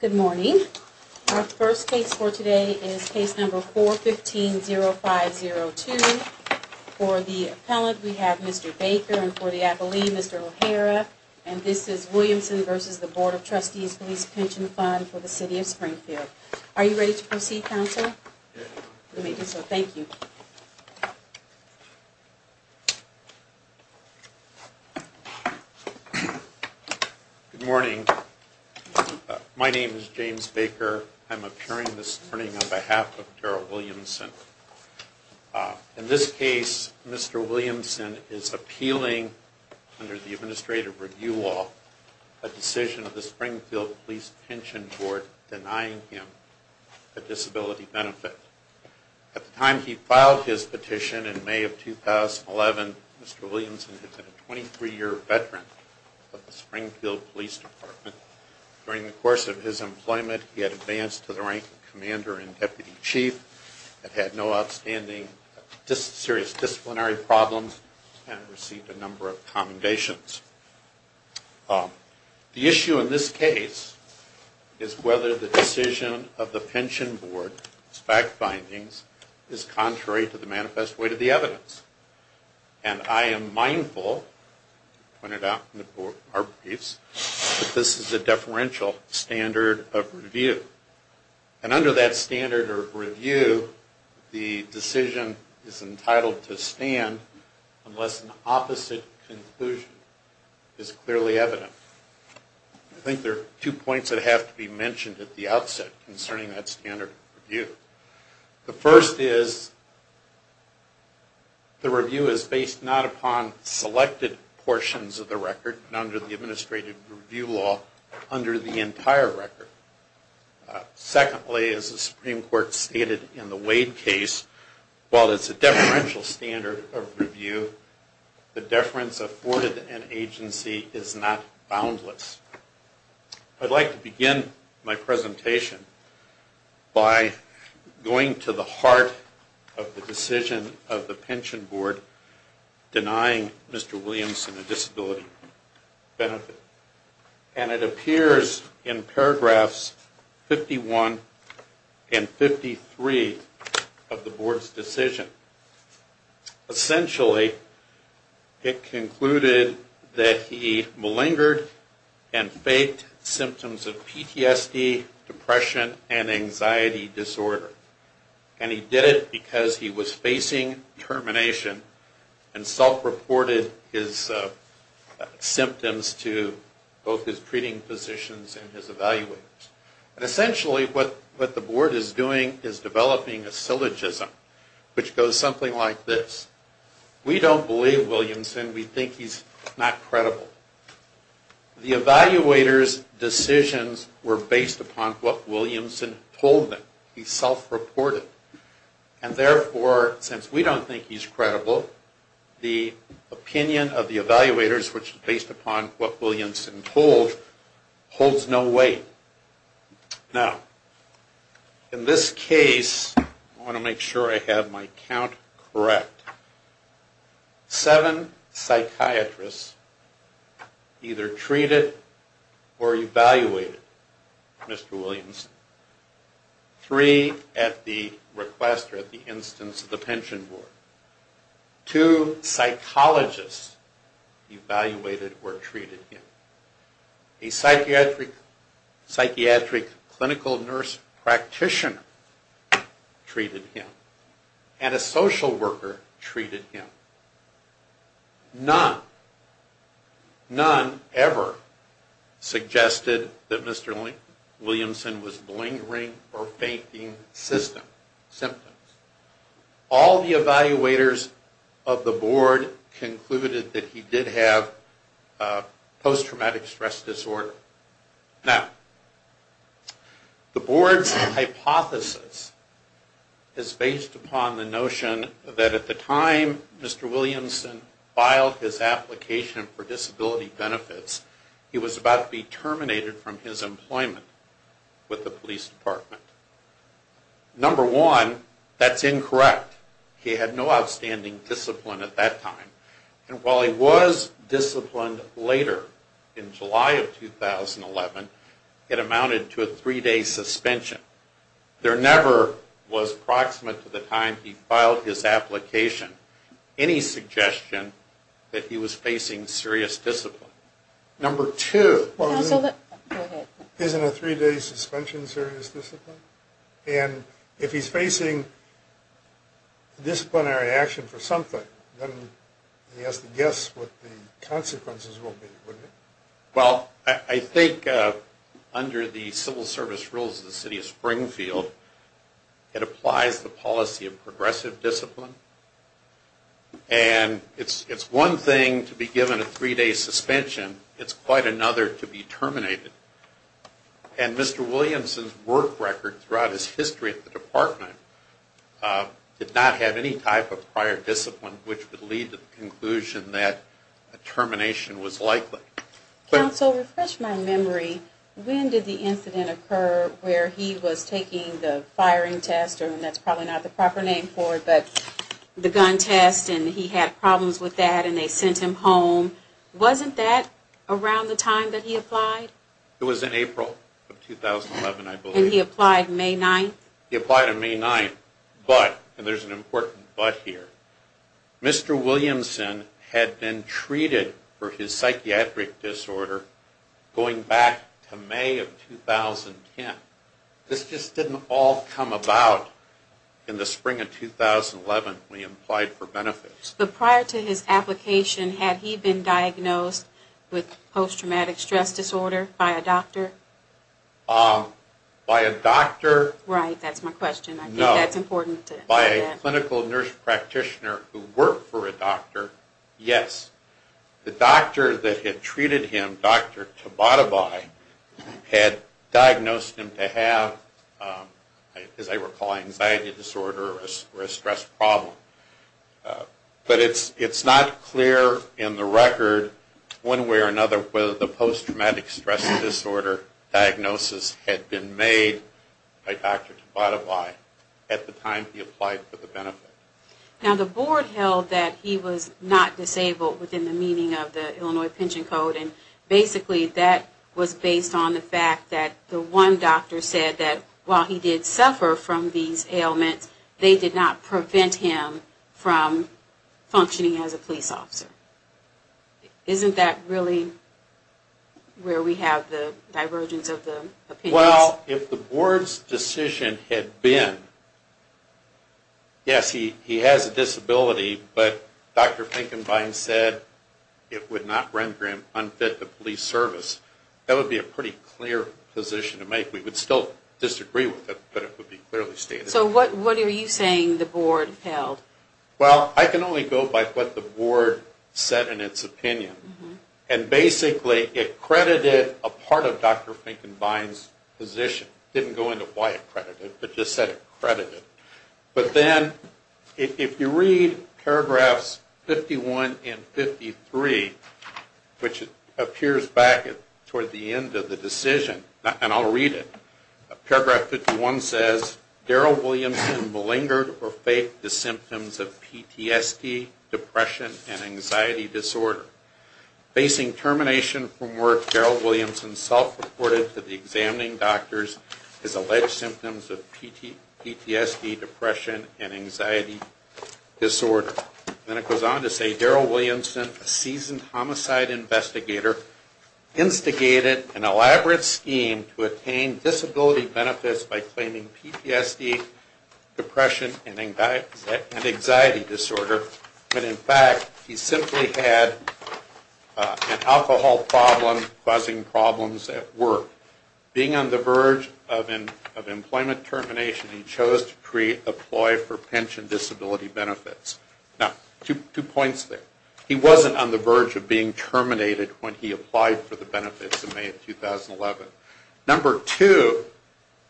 Good morning. Our first case for today is case number 415-0502. For the appellant, we have Mr. Baker, and for the appellee, Mr. O'Hara, and this is Williamson v. Board of Trustees Police Pension Fund. Good morning. My name is James Baker. I'm appearing this morning on behalf of Daryl Williamson. In this case, Mr. Williamson is appealing under the Administrative Review Law, a decision of the Springfield Police Pension Board. At the time he filed his petition in May of 2011, Mr. Williamson had been a 23-year veteran of the Springfield Police Department. During the course of his employment, he had advanced to the rank of commander and deputy chief, had had no outstanding serious disciplinary problems, and had received a number of commendations. The issue in this case is whether the decision of the pension board's fact findings is contrary to the manifest weight of the evidence. And I am mindful, as pointed out in our briefs, that this is a deferential standard of review. And under that standard of review, the decision is entitled to stand unless an opposite conclusion is clearly evident. I think there are two points that have to be mentioned at the outset concerning that standard of review. The first is the review is based not upon selected portions of the record, under the Administrative Review Law, under the entire record. Secondly, as the Supreme Court stated in the Wade case, while it's a deferential standard of review, the deference afforded to an agency is not boundless. I'd like to begin my presentation by going to the heart of the decision of the pension board denying Mr. Williamson a disability benefit. And it appears in paragraphs 51 and 53 of the board's decision. Essentially, it concluded that he malingered and faked symptoms of PTSD, depression, and anxiety disorder. And he did it because he was facing termination and self-reported his symptoms to both his treating physicians and his evaluators. Essentially, what the board is doing is developing a syllogism, which goes something like this. We don't believe Williamson. We think he's not credible. The evaluators' decisions were based upon what Williamson told them. He self-reported. And therefore, since we don't think he's credible, the opinion of the evaluators, which is based upon what Williamson told, holds no weight. Now, in this case, I want to make sure I have my count correct. Seven psychiatrists either treated or evaluated Mr. Williamson. Three at the request or at the instance of the pension board. Two psychologists evaluated or treated him. A psychiatric clinical nurse practitioner treated him. And a social worker treated him. None. None ever suggested that Mr. Williamson was malingering or faking symptoms. All the evaluators of the board concluded that he did have post-traumatic stress disorder. Now, the board's hypothesis is based upon the notion that at the time Mr. Williamson filed his application for disability benefits, he was about to be terminated from his employment with the police department. Number one, that's incorrect. He had no outstanding discipline at that time. And while he was disciplined later, in July of 2011, it amounted to a three-day suspension. There never was, proximate to the time he filed his application, any suggestion that he was facing serious discipline. Number two, isn't a three-day suspension serious discipline? And if he's facing disciplinary action for something, then he has to guess what the consequences will be, wouldn't he? Well, I think under the civil service rules of the city of Springfield, it applies the policy of progressive discipline. And it's one thing to be given a three-day suspension, it's quite another to be terminated. And Mr. Williamson's work record throughout his history at the department did not have any type of prior discipline which would lead to the conclusion that termination was likely. Counsel, refresh my memory, when did the incident occur where he was taking the firing test, or that's probably not the proper name for it, but the gun test and he had problems with that and they sent him home. Wasn't that around the time that he applied? It was in April of 2011, I believe. And he applied May 9th? He applied on May 9th, but, and there's an important but here, Mr. Williamson had been treated for his psychiatric disorder going back to May of 2010. This just didn't all come about in the spring of 2011 when he applied for benefits. But prior to his application, had he been diagnosed with post-traumatic stress disorder by a doctor? By a doctor? Right, that's my question. No. I think that's important. By a clinical nurse practitioner who worked for a doctor, yes. The doctor that had treated him, Dr. Tabatabai, had diagnosed him to have, as I recall, anxiety disorder or a stress problem. But it's not clear in the record one way or another whether the post-traumatic stress disorder diagnosis had been made by Dr. Tabatabai at the time he applied for the benefit. Now the board held that he was not disabled within the meaning of the Illinois Pension Code. And basically that was based on the fact that the one doctor said that while he did suffer from these ailments, they did not prevent him from functioning as a police officer. Isn't that really where we have the divergence of the opinions? Well, if the board's decision had been, yes, he has a disability, but Dr. Finkenbein said it would not render him unfit to police service, that would be a pretty clear position to make. We would still disagree with it, but it would be clearly stated. So what are you saying the board held? Well, I can only go by what the board said in its opinion. And basically it credited a part of Dr. Finkenbein's position. Didn't go into why it credited, but just said it credited. But then if you read paragraphs 51 and 53, which appears back toward the end of the decision, and I'll read it. Paragraph 51 says, Darryl Williamson malingered or faked the symptoms of PTSD, depression, and anxiety disorder. Facing termination from work, Darryl Williamson self-reported to the examining doctors his alleged symptoms of PTSD, depression, and anxiety disorder. Then it goes on to say, Darryl Williamson, a seasoned homicide investigator, instigated an elaborate scheme to attain disability benefits by claiming PTSD, depression, and anxiety disorder. But in fact, he simply had an alcohol problem causing problems at work. Being on the verge of employment termination, he chose to pre-apply for pension disability benefits. Now, two points there. He wasn't on the verge of being terminated when he applied for the benefits in May of 2011. Number two,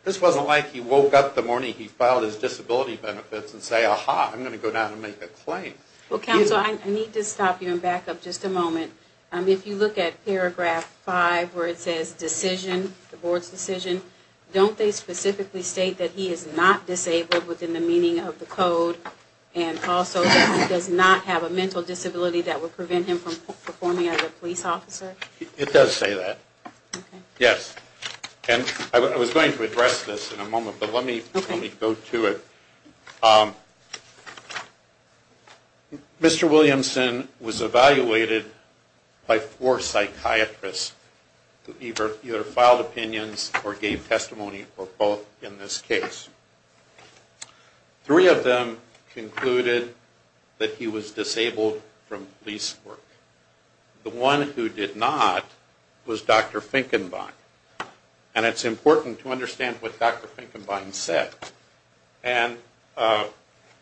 this wasn't like he woke up the morning he filed his disability benefits and said, aha, I'm going to go down and make a claim. Well, counsel, I need to stop you and back up just a moment. If you look at paragraph five where it says decision, the board's decision, don't they specifically state that he is not disabled within the meaning of the code, and also that he does not have a mental disability that would prevent him from performing as a police officer? It does say that. Yes. And I was going to address this in a moment, but let me go to it. Mr. Williamson was evaluated by four psychiatrists who either filed opinions or gave testimony for both in this case. Three of them concluded that he was disabled from police work. The one who did not was Dr. Finkenbein. And it's important to understand what Dr. Finkenbein said. And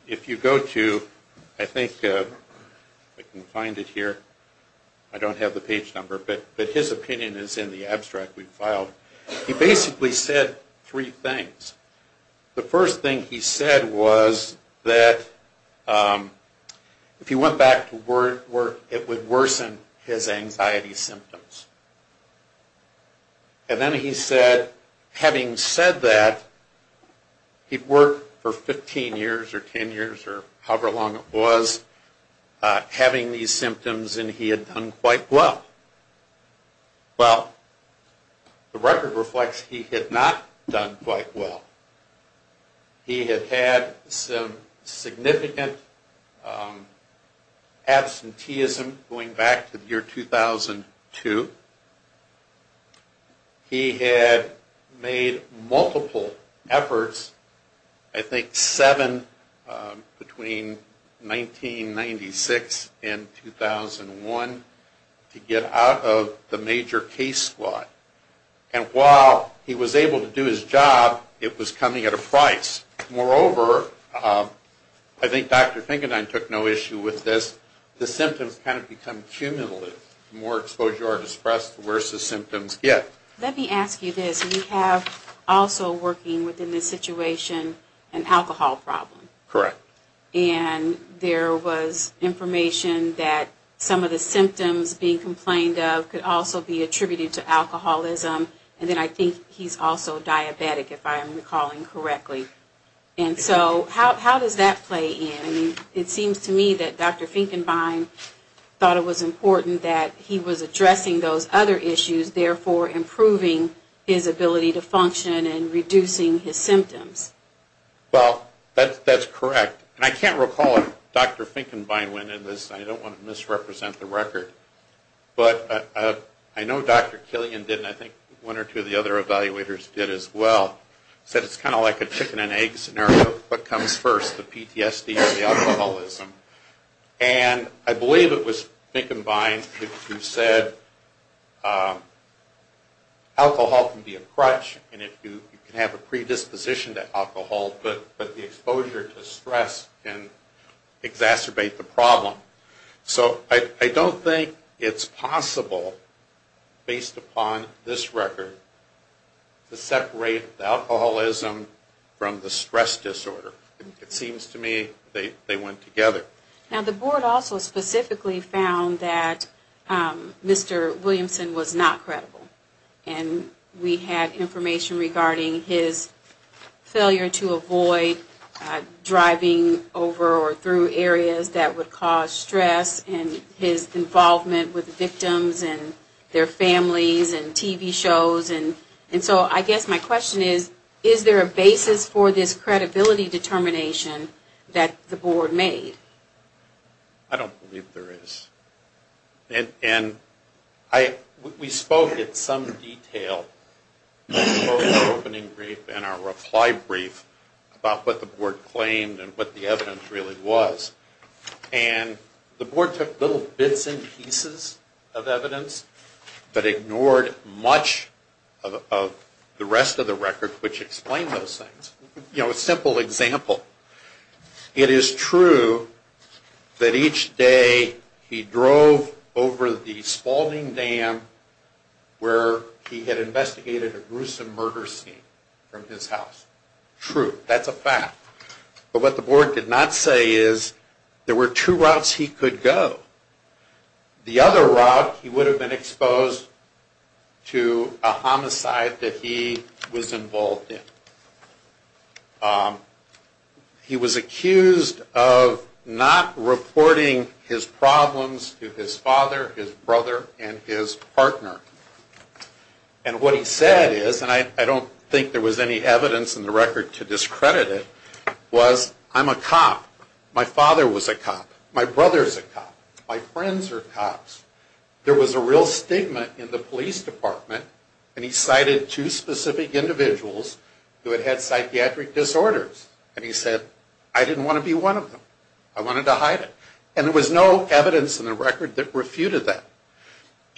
if you go to, I think I can find it here. I don't have the page number, but his opinion is in the abstract we filed. He basically said three things. The first thing he said was that if he went back to work, it would worsen his anxiety symptoms. And then he said, having said that, he'd worked for 15 years or 10 years or however long it was, having these symptoms, and he had done quite well. Well, the record reflects he had not done quite well. He had had some significant absenteeism going back to the year 2002. He had made multiple efforts, I think seven between 1996 and 2001, to get out of the major case squad. And while he was able to do his job, it was coming at a price. Moreover, I think Dr. Finkenbein took no issue with this, the symptoms kind of become cumulative. The more exposure or distress, the worse the symptoms get. Let me ask you this. We have also working within this situation an alcohol problem. Correct. And there was information that some of the symptoms being complained of could also be attributed to alcoholism. And then I think he's also diabetic, if I'm recalling correctly. And so how does that play in? I mean, it seems to me that Dr. Finkenbein thought it was important that he was addressing those other issues, therefore improving his ability to function and reducing his symptoms. Well, that's correct. And I can't recall if Dr. Finkenbein went into this, and I don't want to misrepresent the record. But I know Dr. Killian did, and I think one or two of the other evaluators did as well. He said it's kind of like a chicken and egg scenario. What comes first, the PTSD or the alcoholism? And I believe it was Finkenbein who said alcohol can be a crutch, and you can have a predisposition to alcohol, but the exposure to stress can exacerbate the problem. So I don't think it's possible, based upon this record, to separate the alcoholism from the stress disorder. It seems to me they went together. Now the board also specifically found that Mr. Williamson was not credible. And we had information regarding his failure to avoid driving over or through areas that would cause stress, and his involvement with victims and their families and TV shows. And so I guess my question is, is there a basis for this credibility determination that the board made? I don't believe there is. And we spoke at some detail in our opening brief and our reply brief about what the board claimed and what the evidence really was. And the board took little bits and pieces of evidence, but ignored much of the rest of the record which explained those things. You know, a simple example. It is true that each day he drove over the Spalding Dam where he had investigated a gruesome murder scene from his house. True, that's a fact. But what the board did not say is there were two routes he could go. The other route he would have been exposed to a homicide that he was involved in. He was accused of not reporting his problems to his father, his brother, and his partner. And what he said is, and I don't think there was any evidence in the record to discredit it, was, I'm a cop. My father was a cop. My brother's a cop. My friends are cops. There was a real stigma in the police department. And he cited two specific individuals who had had psychiatric disorders. And he said, I didn't want to be one of them. I wanted to hide it. And there was no evidence in the record that refuted that.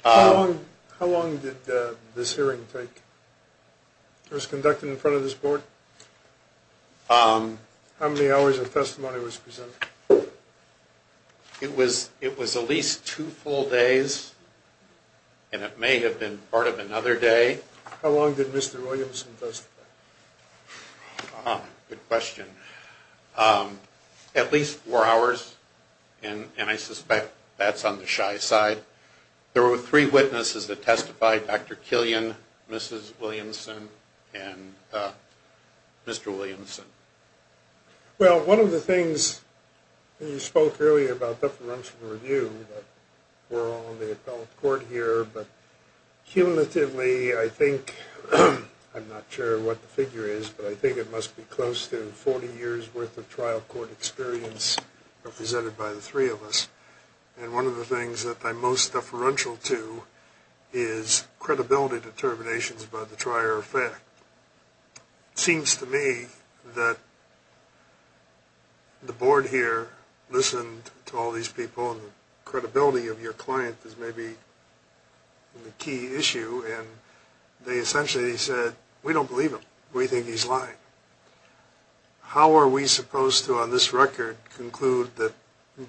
How long did this hearing take? It was conducted in front of this board? How many hours of testimony was presented? It was at least two full days. And it may have been part of another day. How long did Mr. Williamson testify? Good question. At least four hours. And I suspect that's on the shy side. There were three witnesses that testified. Dr. Killian, Mrs. Williamson, and Mr. Williamson. Well, one of the things, you spoke earlier about deferential review. We're all in the appellate court here. But cumulatively, I think, I'm not sure what the figure is, but I think it must be close to 40 years' worth of trial court experience represented by the three of us. And one of the things that I'm most deferential to is credibility determinations by the trier of fact. It seems to me that the board here listened to all these people, and the credibility of your client is maybe the key issue. And they essentially said, we don't believe him. We think he's lying. How are we supposed to, on this record, conclude that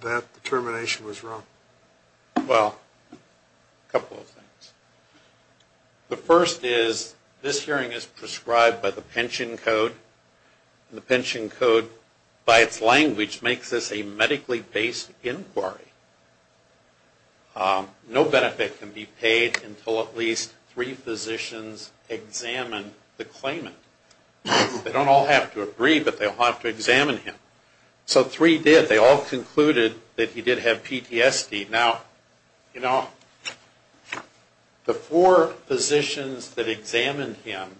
that determination was wrong? Well, a couple of things. The first is, this hearing is prescribed by the pension code, and the pension code, by its language, makes this a medically-based inquiry. No benefit can be paid until at least three physicians examine the claimant. They don't all have to agree, but they'll have to examine him. So three did. They all concluded that he did have PTSD. Now, you know, the four physicians that examined him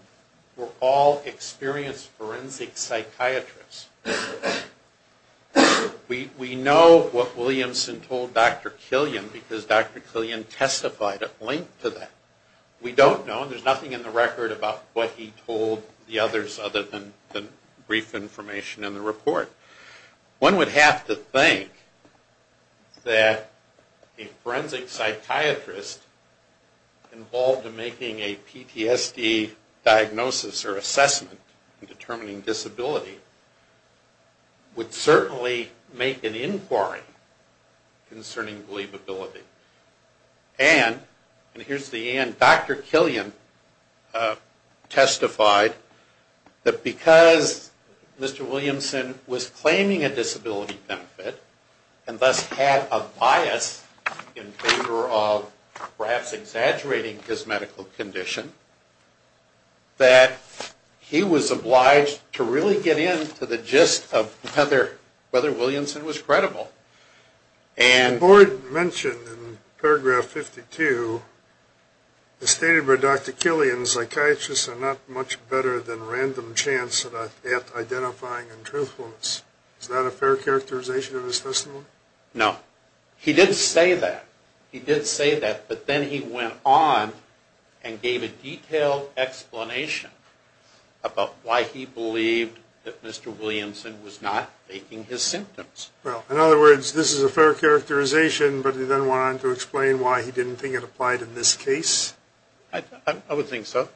were all experienced forensic psychiatrists. We know what Williamson told Dr. Killian because Dr. Killian testified at length to that. We don't know, and there's nothing in the record about what he told the others other than brief information in the report. One would have to think that a forensic psychiatrist involved in making a PTSD diagnosis or assessment in determining disability would certainly make an inquiry concerning believability. And here's the and. Dr. Killian testified that because Mr. Williamson was claiming a disability benefit and thus had a bias in favor of perhaps exaggerating his medical condition, that he was obliged to really get into the gist of whether Williamson was credible. The board mentioned in paragraph 52, as stated by Dr. Killian, psychiatrists are not much better than random chance at identifying and truthfulness. Is that a fair characterization of his testimony? No. He did say that. He did say that, but then he went on and gave a detailed explanation about why he believed that Mr. Williamson was not faking his symptoms. Well, in other words, this is a fair characterization, but he then went on to explain why he didn't think it applied in this case? I would think so.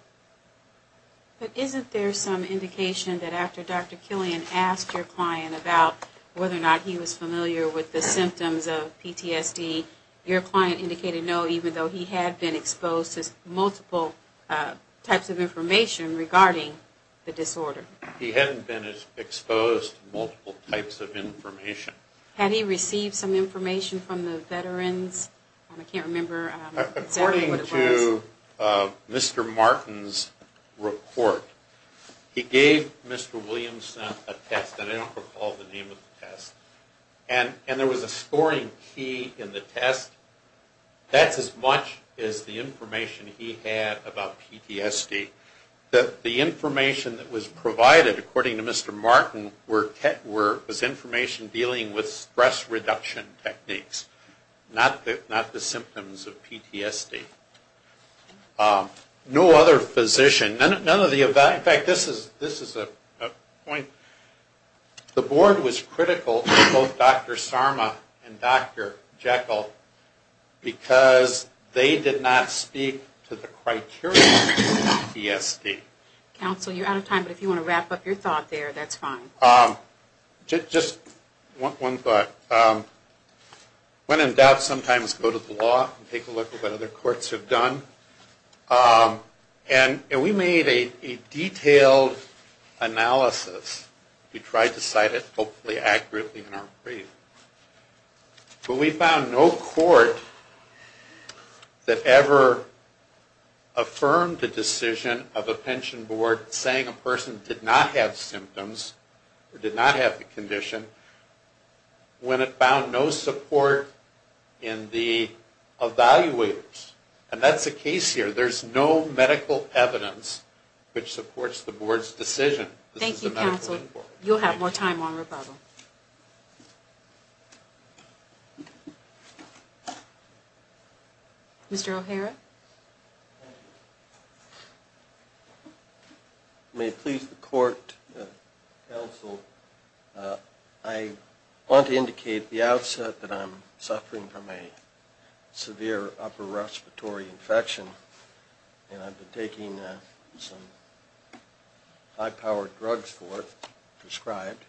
But isn't there some indication that after Dr. Killian asked your client about whether or not he was familiar with the symptoms of PTSD, your client indicated no, even though he had been exposed to multiple types of information regarding the disorder? He hadn't been exposed to multiple types of information. Had he received some information from the veterans? I can't remember exactly what it was. According to Mr. Martin's report, he gave Mr. Williamson a test, and I don't recall the name of the test, and there was a scoring key in the test. That's as much as the information he had about PTSD. The information that was provided, according to Mr. Martin, was information dealing with stress reduction techniques, not the symptoms of PTSD. No other physician. In fact, this is a point. The board was critical of both Dr. Sarma and Dr. Jekyll because they did not speak to the criteria for PTSD. Counsel, you're out of time, but if you want to wrap up your thought there, that's fine. Just one thought. When in doubt, sometimes go to the law and take a look at what other courts have done. We made a detailed analysis. We tried to cite it, hopefully accurately, in our brief. But we found no court that ever affirmed the decision of a pension board saying a person did not have symptoms or did not have the condition when it found no support in the evaluators. And that's the case here. There's no medical evidence which supports the board's decision. Thank you, counsel. You'll have more time on rebuttal. Thank you. Mr. O'Hara. May it please the court, counsel, I want to indicate at the outset that I'm suffering from a severe upper respiratory infection, and I've been taking some high-powered drugs for it, prescribed,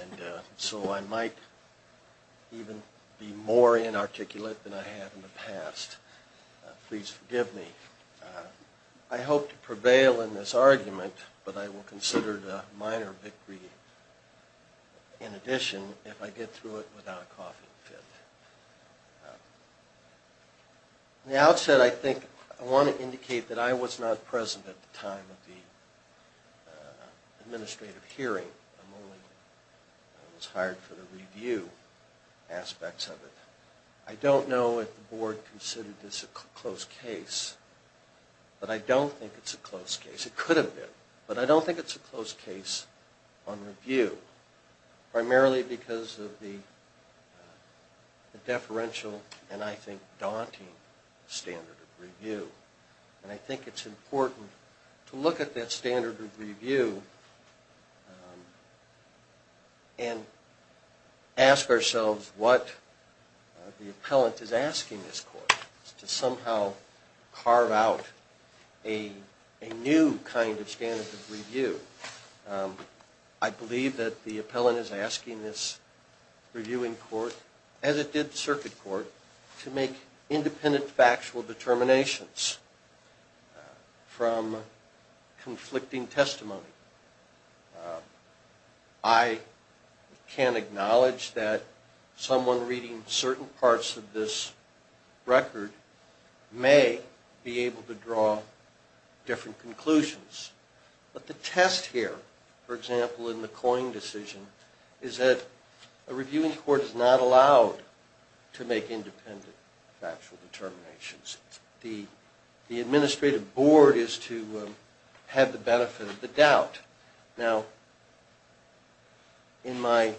and so I might even be more inarticulate than I have in the past. Please forgive me. I hope to prevail in this argument, but I will consider it a minor victory in addition if I get through it without a coughing fit. At the outset, I want to indicate that I was not present at the time of the administrative hearing. I was hired for the review aspects of it. I don't know if the board considered this a close case, but I don't think it's a close case. It could have been, but I don't think it's a close case on review, primarily because of the deferential and, I think, daunting standard of review, and I think it's important to look at that standard of review and ask ourselves what the appellant is asking this court, to somehow carve out a new kind of standard of review. I believe that the appellant is asking this reviewing court, as it did the circuit court, to make independent factual determinations from conflicting testimony. I can acknowledge that someone reading certain parts of this record may be able to draw different conclusions, but the test here, for example, in the Coyne decision, is that a reviewing court is not allowed to make independent factual determinations. The administrative board is to have the benefit of the doubt. Now, in my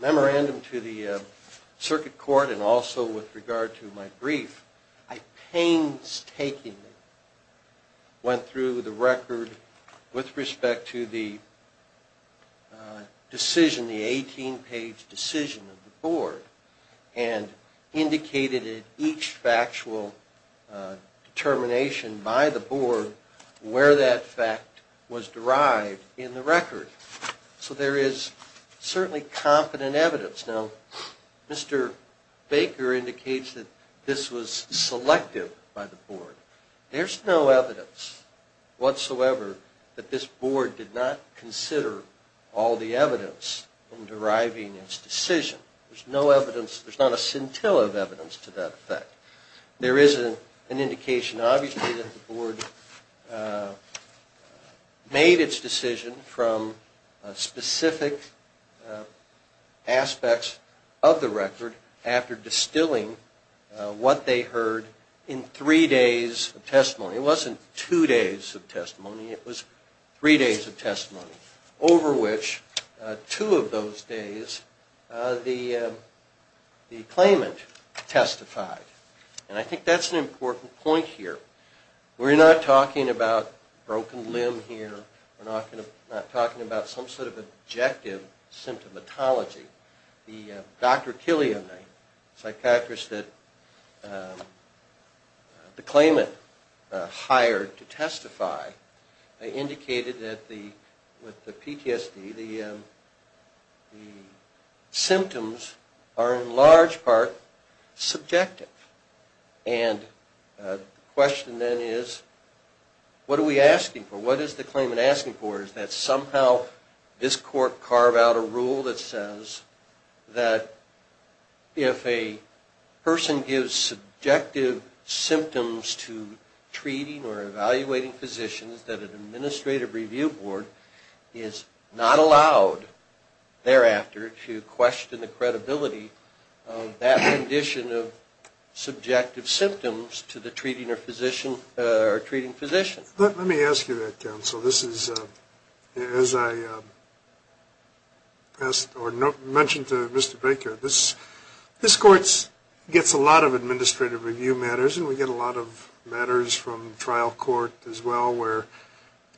memorandum to the circuit court and also with regard to my brief, I painstakingly went through the record with respect to the decision, the 18-page decision of the board, and indicated in each factual determination by the board where that fact was derived in the record. So there is certainly confident evidence. Now, Mr. Baker indicates that this was selective by the board. There's no evidence whatsoever that this board did not consider all the evidence in deriving its decision. There's no evidence. There's not a scintilla of evidence to that effect. There is an indication, obviously, that the board made its decision from specific aspects of the record after distilling what they heard in three days of testimony. It wasn't two days of testimony. It was three days of testimony, over which two of those days the claimant testified. And I think that's an important point here. We're not talking about broken limb here. We're not talking about some sort of objective symptomatology. Dr. Killian, a psychiatrist that the claimant hired to testify, indicated that with the PTSD, the symptoms are in large part subjective. And the question then is, what are we asking for? What is the claimant asking for? Is that somehow this court carved out a rule that says that if a person gives subjective symptoms to treating or evaluating physicians, that an administrative review board is not allowed thereafter to question the credibility of that condition of subjective symptoms to the treating physician. Let me ask you that, counsel. This is, as I mentioned to Mr. Baker, this court gets a lot of administrative review matters, and we get a lot of matters from trial court as well, where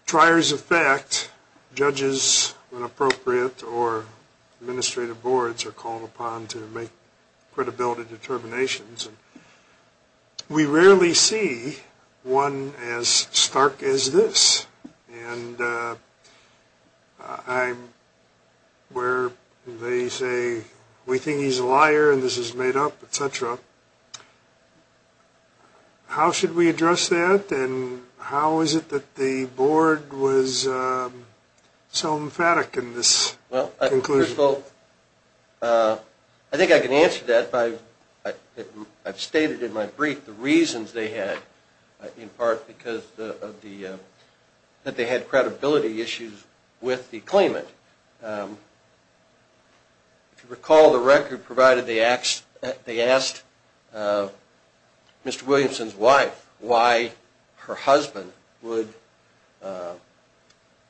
triers of fact, judges when appropriate, or administrative boards are called upon to make credibility determinations. We rarely see one as stark as this. And where they say, we think he's a liar and this is made up, et cetera, how should we address that? And how is it that the board was so emphatic in this conclusion? Well, I think I can answer that. I've stated in my brief the reasons they had, in part because they had credibility issues with the claimant. If you recall, the record provided they asked Mr. Williamson's wife why her husband would,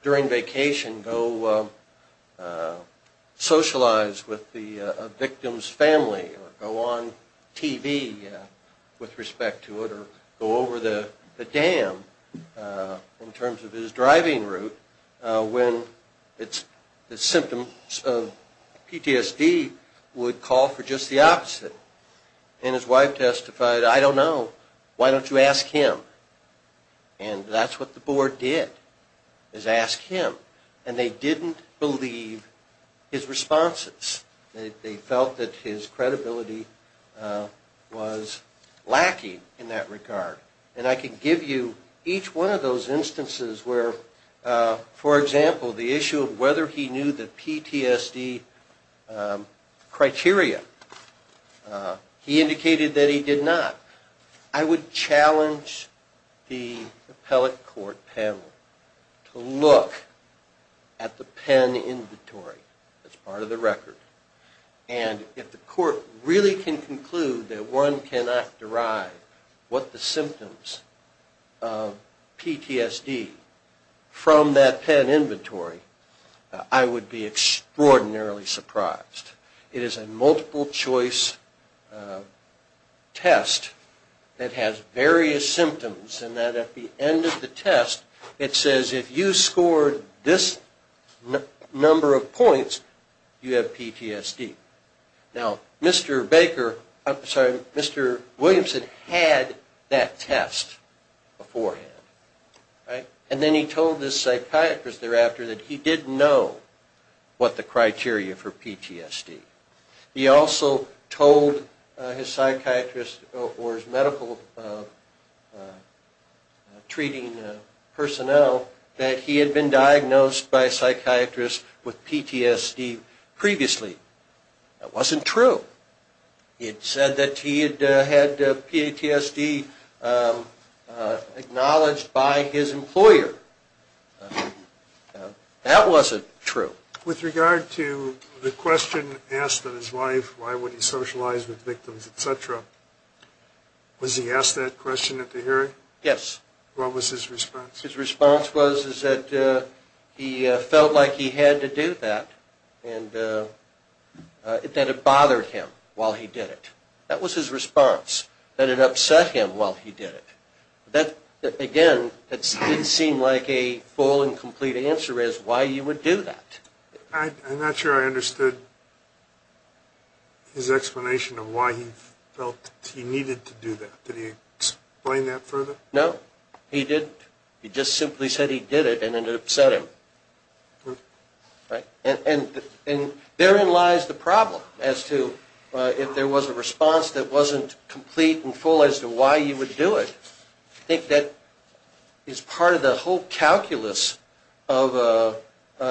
during vacation, go socialize with a victim's family or go on TV with respect to it or go over the dam in terms of his driving route when the symptoms of PTSD would call for just the opposite. And his wife testified, I don't know, why don't you ask him? And that's what the board did, is ask him. And they didn't believe his responses. They felt that his credibility was lacking in that regard. And I could give you each one of those instances where, for example, the issue of whether he knew the PTSD criteria. He indicated that he did not. I would challenge the appellate court panel to look at the pen inventory that's part of the record. And if the court really can conclude that one cannot derive what the symptoms of PTSD from that pen inventory, I would be extraordinarily surprised. It is a multiple-choice test that has various symptoms in that at the end of the test, it says if you scored this number of points, you have PTSD. Now, Mr. Baker, I'm sorry, Mr. Williamson had that test beforehand. And then he told this psychiatrist thereafter that he didn't know what the criteria for PTSD. He also told his psychiatrist or his medical treating personnel that he had been diagnosed by a psychiatrist with PTSD previously. That wasn't true. It said that he had PTSD acknowledged by his employer. That wasn't true. With regard to the question asked of his wife, why would he socialize with victims, et cetera, was he asked that question at the hearing? Yes. What was his response? His response was that he felt like he had to do that and that it bothered him while he did it. That was his response, that it upset him while he did it. Again, it didn't seem like a full and complete answer as to why you would do that. I'm not sure I understood his explanation of why he felt he needed to do that. Did he explain that further? No, he didn't. He just simply said he did it and it upset him. Therein lies the problem as to if there was a response that wasn't complete and full as to why you would do it. I think that is part of the whole calculus of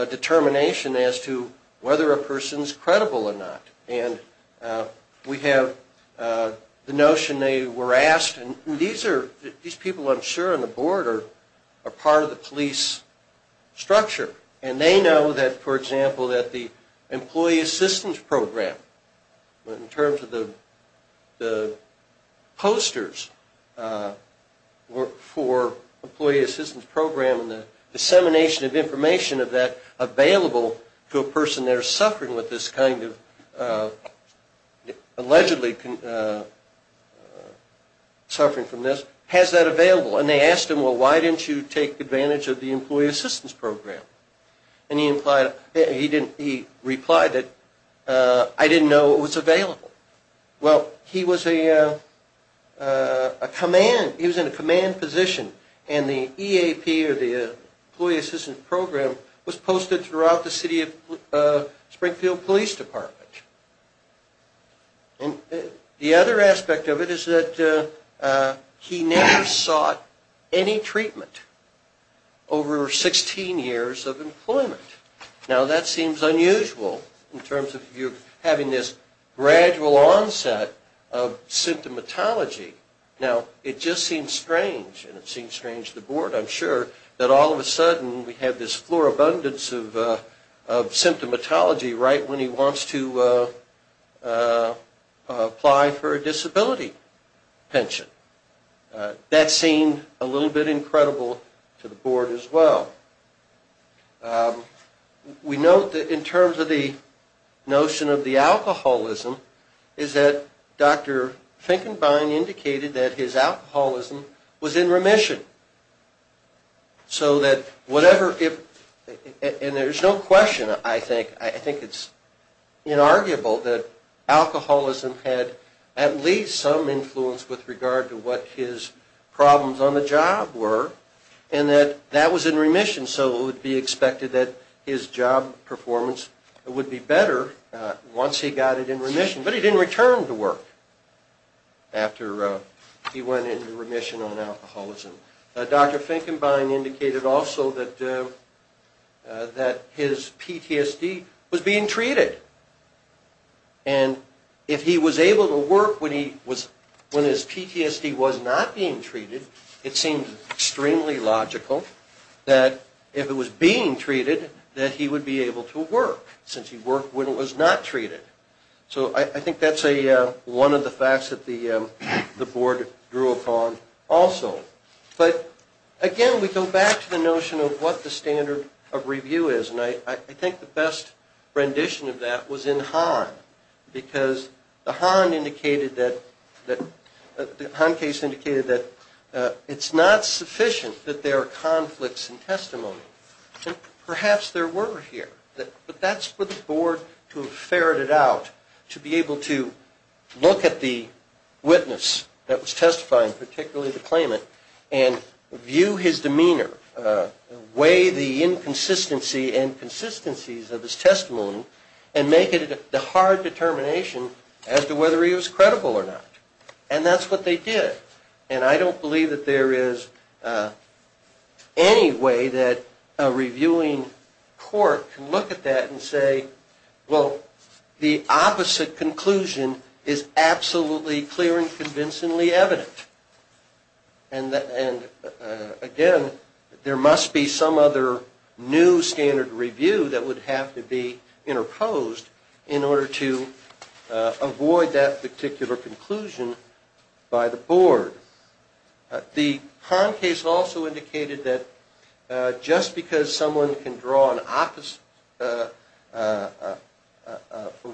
determination as to whether a person is credible or not. We have the notion they were asked. These people, I'm sure, on the board are part of the police structure. They know, for example, that the employee assistance program, in terms of the posters for the employee assistance program and the dissemination of information of that to a person that is allegedly suffering from this, has that available. They asked him, well, why didn't you take advantage of the employee assistance program? He replied, I didn't know it was available. Well, he was in a command position. And the EAP, or the Employee Assistance Program, was posted throughout the city of Springfield Police Department. And the other aspect of it is that he never sought any treatment over 16 years of employment. Now, that seems unusual in terms of you having this gradual onset of symptomatology. Now, it just seems strange, and it seems strange to the board, I'm sure, that all of a sudden we have this floor abundance of symptomatology right when he wants to apply for a disability pension. That seemed a little bit incredible to the board as well. We note that in terms of the notion of the alcoholism, is that Dr. Finkenbein indicated that his alcoholism was in remission. So that whatever, and there's no question, I think, I think it's inarguable that alcoholism had at least some influence with regard to what his problems on the job were, and that that was in remission. So it would be expected that his job performance would be better once he got it in remission. But he didn't return to work after he went into remission on alcoholism. Dr. Finkenbein indicated also that his PTSD was being treated. And if he was able to work when his PTSD was not being treated, it seemed extremely logical that if it was being treated, that he would be able to work, since he worked when it was not treated. So I think that's one of the facts that the board drew upon also. But again, we go back to the notion of what the standard of review is, and I think the best rendition of that was in Hahn. Because the Hahn case indicated that it's not sufficient that there are conflicts in testimony. Perhaps there were here, but that's for the board to have ferreted out, to be able to look at the witness that was testifying, particularly the claimant, and view his demeanor, weigh the inconsistency and consistencies of his testimony, and make it a hard determination as to whether he was credible or not. And that's what they did. And I don't believe that there is any way that a reviewing court can look at that and say, well, the opposite conclusion is absolutely clear and convincingly evident. And again, there must be some other new standard review that would have to be interposed in order to avoid that particular conclusion by the board. The Hahn case also indicated that just because someone can draw a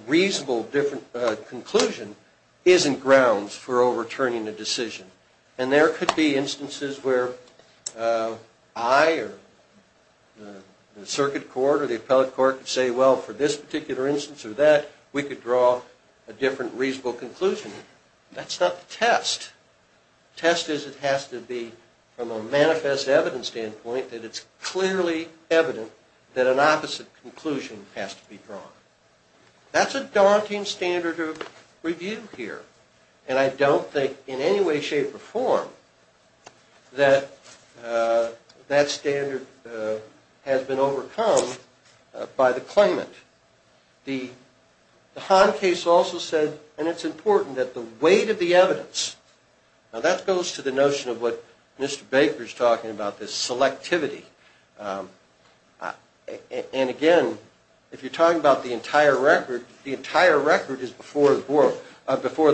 reasonable different conclusion isn't grounds for overturning a decision. And there could be instances where I or the circuit court or the appellate court could say, well, for this particular instance or that, we could draw a different reasonable conclusion. That's not the test. The test is it has to be from a manifest evidence standpoint that it's clearly evident that an opposite conclusion has to be drawn. That's a daunting standard of review here. And I don't think in any way, shape, or form that that standard has been overcome by the claimant. The Hahn case also said, and it's important, that the weight of the evidence, now that goes to the notion of what Mr. Baker is talking about, this selectivity. And again, if you're talking about the entire record, the entire record is before the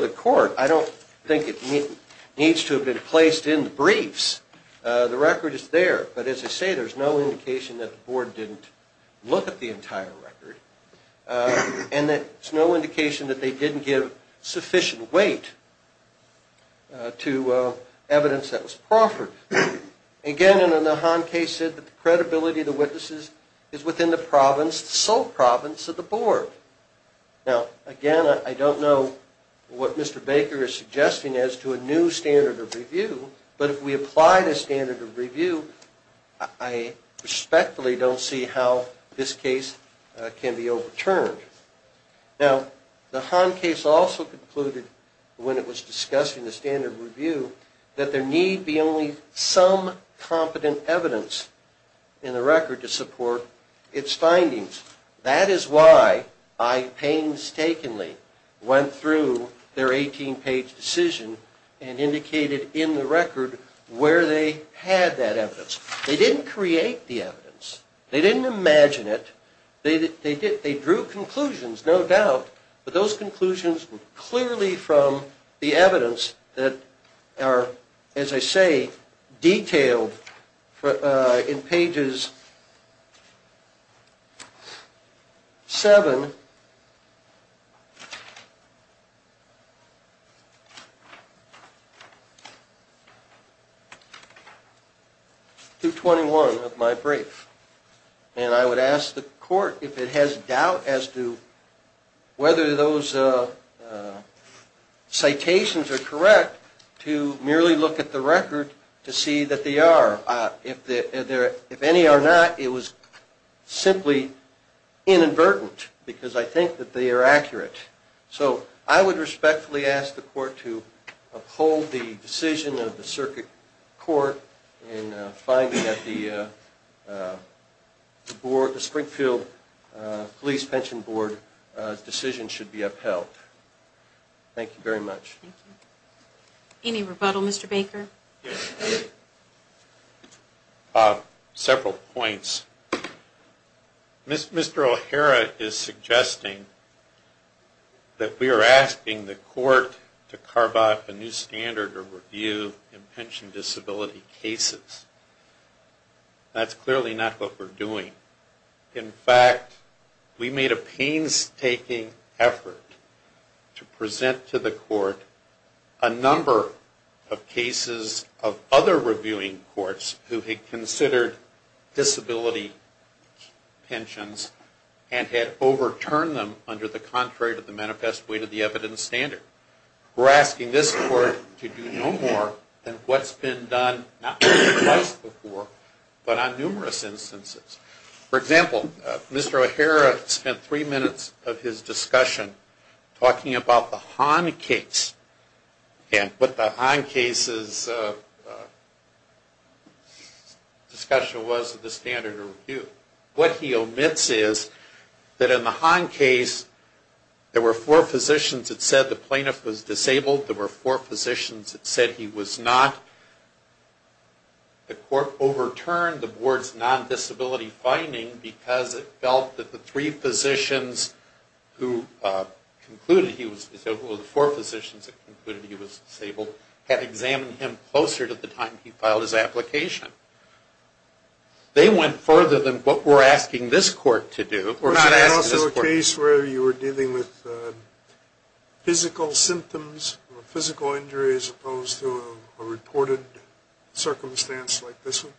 court. I don't think it needs to have been placed in the briefs. The record is there, but as I say, there's no indication that the board didn't look at the entire record and that there's no indication that they didn't give sufficient weight to evidence that was proffered. Again, in the Hahn case said that the credibility of the witnesses is within the province, the sole province of the board. Now, again, I don't know what Mr. Baker is suggesting as to a new standard of review, but if we apply the standard of review, I respectfully don't see how this case can be overturned. Now, the Hahn case also concluded when it was discussing the standard of review that there need be only some competent evidence in the record to support its findings. That is why I painstakingly went through their 18-page decision and indicated in the record where they had that evidence. They didn't create the evidence. They didn't imagine it. They drew conclusions, no doubt, but those conclusions were clearly from the evidence that are, as I say, detailed in pages 7 to 21 of my brief. And I would ask the court if it has doubt as to whether those citations are correct to merely look at the record to see that they are. If any are not, it was simply inadvertent because I think that they are accurate. So I would respectfully ask the court to uphold the decision of the circuit court in finding that the Springfield Police Pension Board decision should be upheld. Thank you very much. Any rebuttal, Mr. Baker? Several points. Mr. O'Hara is suggesting that we are asking the court to carve out a new standard of review in pension disability cases. That's clearly not what we're doing. In fact, we made a painstaking effort to present to the court a number of cases of other reviewing courts who had considered disability pensions and had overturned them under the contrary to the manifest way to the evidence standard. We're asking this court to do no more than what's been done not only twice before but on numerous instances. For example, Mr. O'Hara spent three minutes of his discussion talking about the Hahn case and what the Hahn case's discussion was of the standard of review. What he omits is that in the Hahn case, there were four physicians that said the plaintiff was disabled. There were four physicians that said he was not. The court overturned the board's non-disability finding because it felt that the three physicians who concluded he was disabled or the four physicians that concluded he was disabled had examined him closer to the time he filed his application. They went further than what we're asking this court to do. Is there also a case where you were dealing with physical symptoms or physical injury as opposed to a reported circumstance like this one?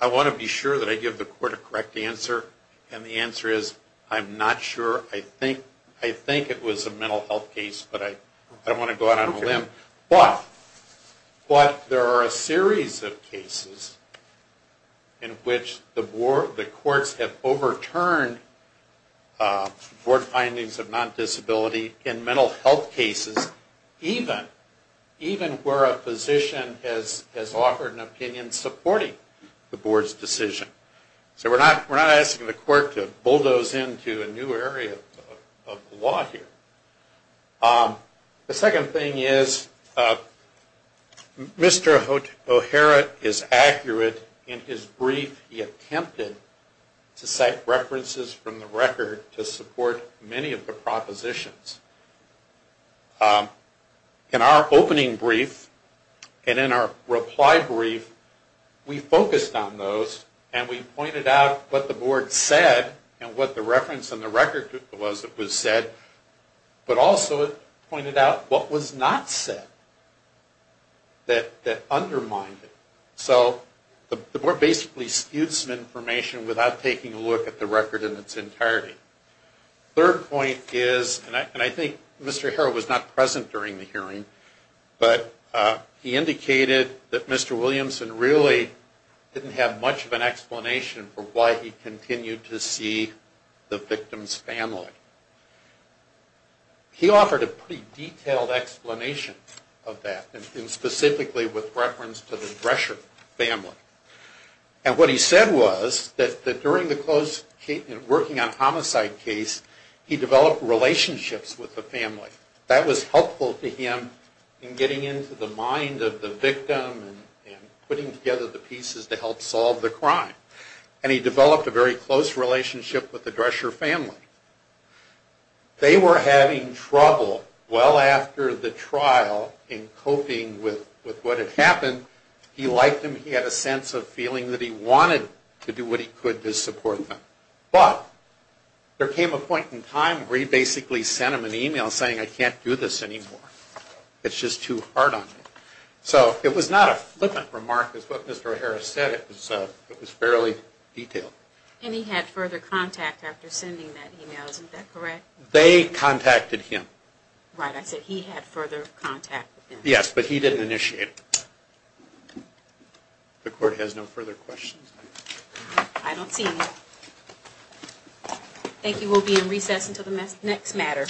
I want to be sure that I give the court a correct answer. The answer is I'm not sure. I think it was a mental health case, but I don't want to go out on a limb. But there are a series of cases in which the courts have overturned board findings of non-disability in mental health cases even where a physician has offered an opinion supporting the board's decision. So we're not asking the court to bulldoze into a new area of the law here. The second thing is Mr. O'Hara is accurate in his brief. He attempted to cite references from the record to support many of the propositions. In our opening brief and in our reply brief, we focused on those and we pointed out what the board said and what the reference in the record was that was said, but also it pointed out what was not said that undermined it. So the board basically skewed some information without taking a look at the record in its entirety. The third point is, and I think Mr. O'Hara was not present during the hearing, but he indicated that Mr. Williamson really didn't have much of an explanation for why he continued to see the victim's family. He offered a pretty detailed explanation of that, and specifically with reference to the Drescher family. And what he said was that during the close working on homicide case, he developed relationships with the family. That was helpful to him in getting into the mind of the victim and putting together the pieces to help solve the crime. And he developed a very close relationship with the Drescher family. They were having trouble well after the trial in coping with what had happened. He liked them. He had a sense of feeling that he wanted to do what he could to support them. But there came a point in time where he basically sent them an email saying, I can't do this anymore. It's just too hard on me. So it was not a flippant remark. As what Mr. O'Hara said, it was fairly detailed. And he had further contact after sending that email. Isn't that correct? They contacted him. Right. I said he had further contact with him. Yes, but he didn't initiate it. The court has no further questions. I don't see any. Thank you. We'll be in recess until the next matter.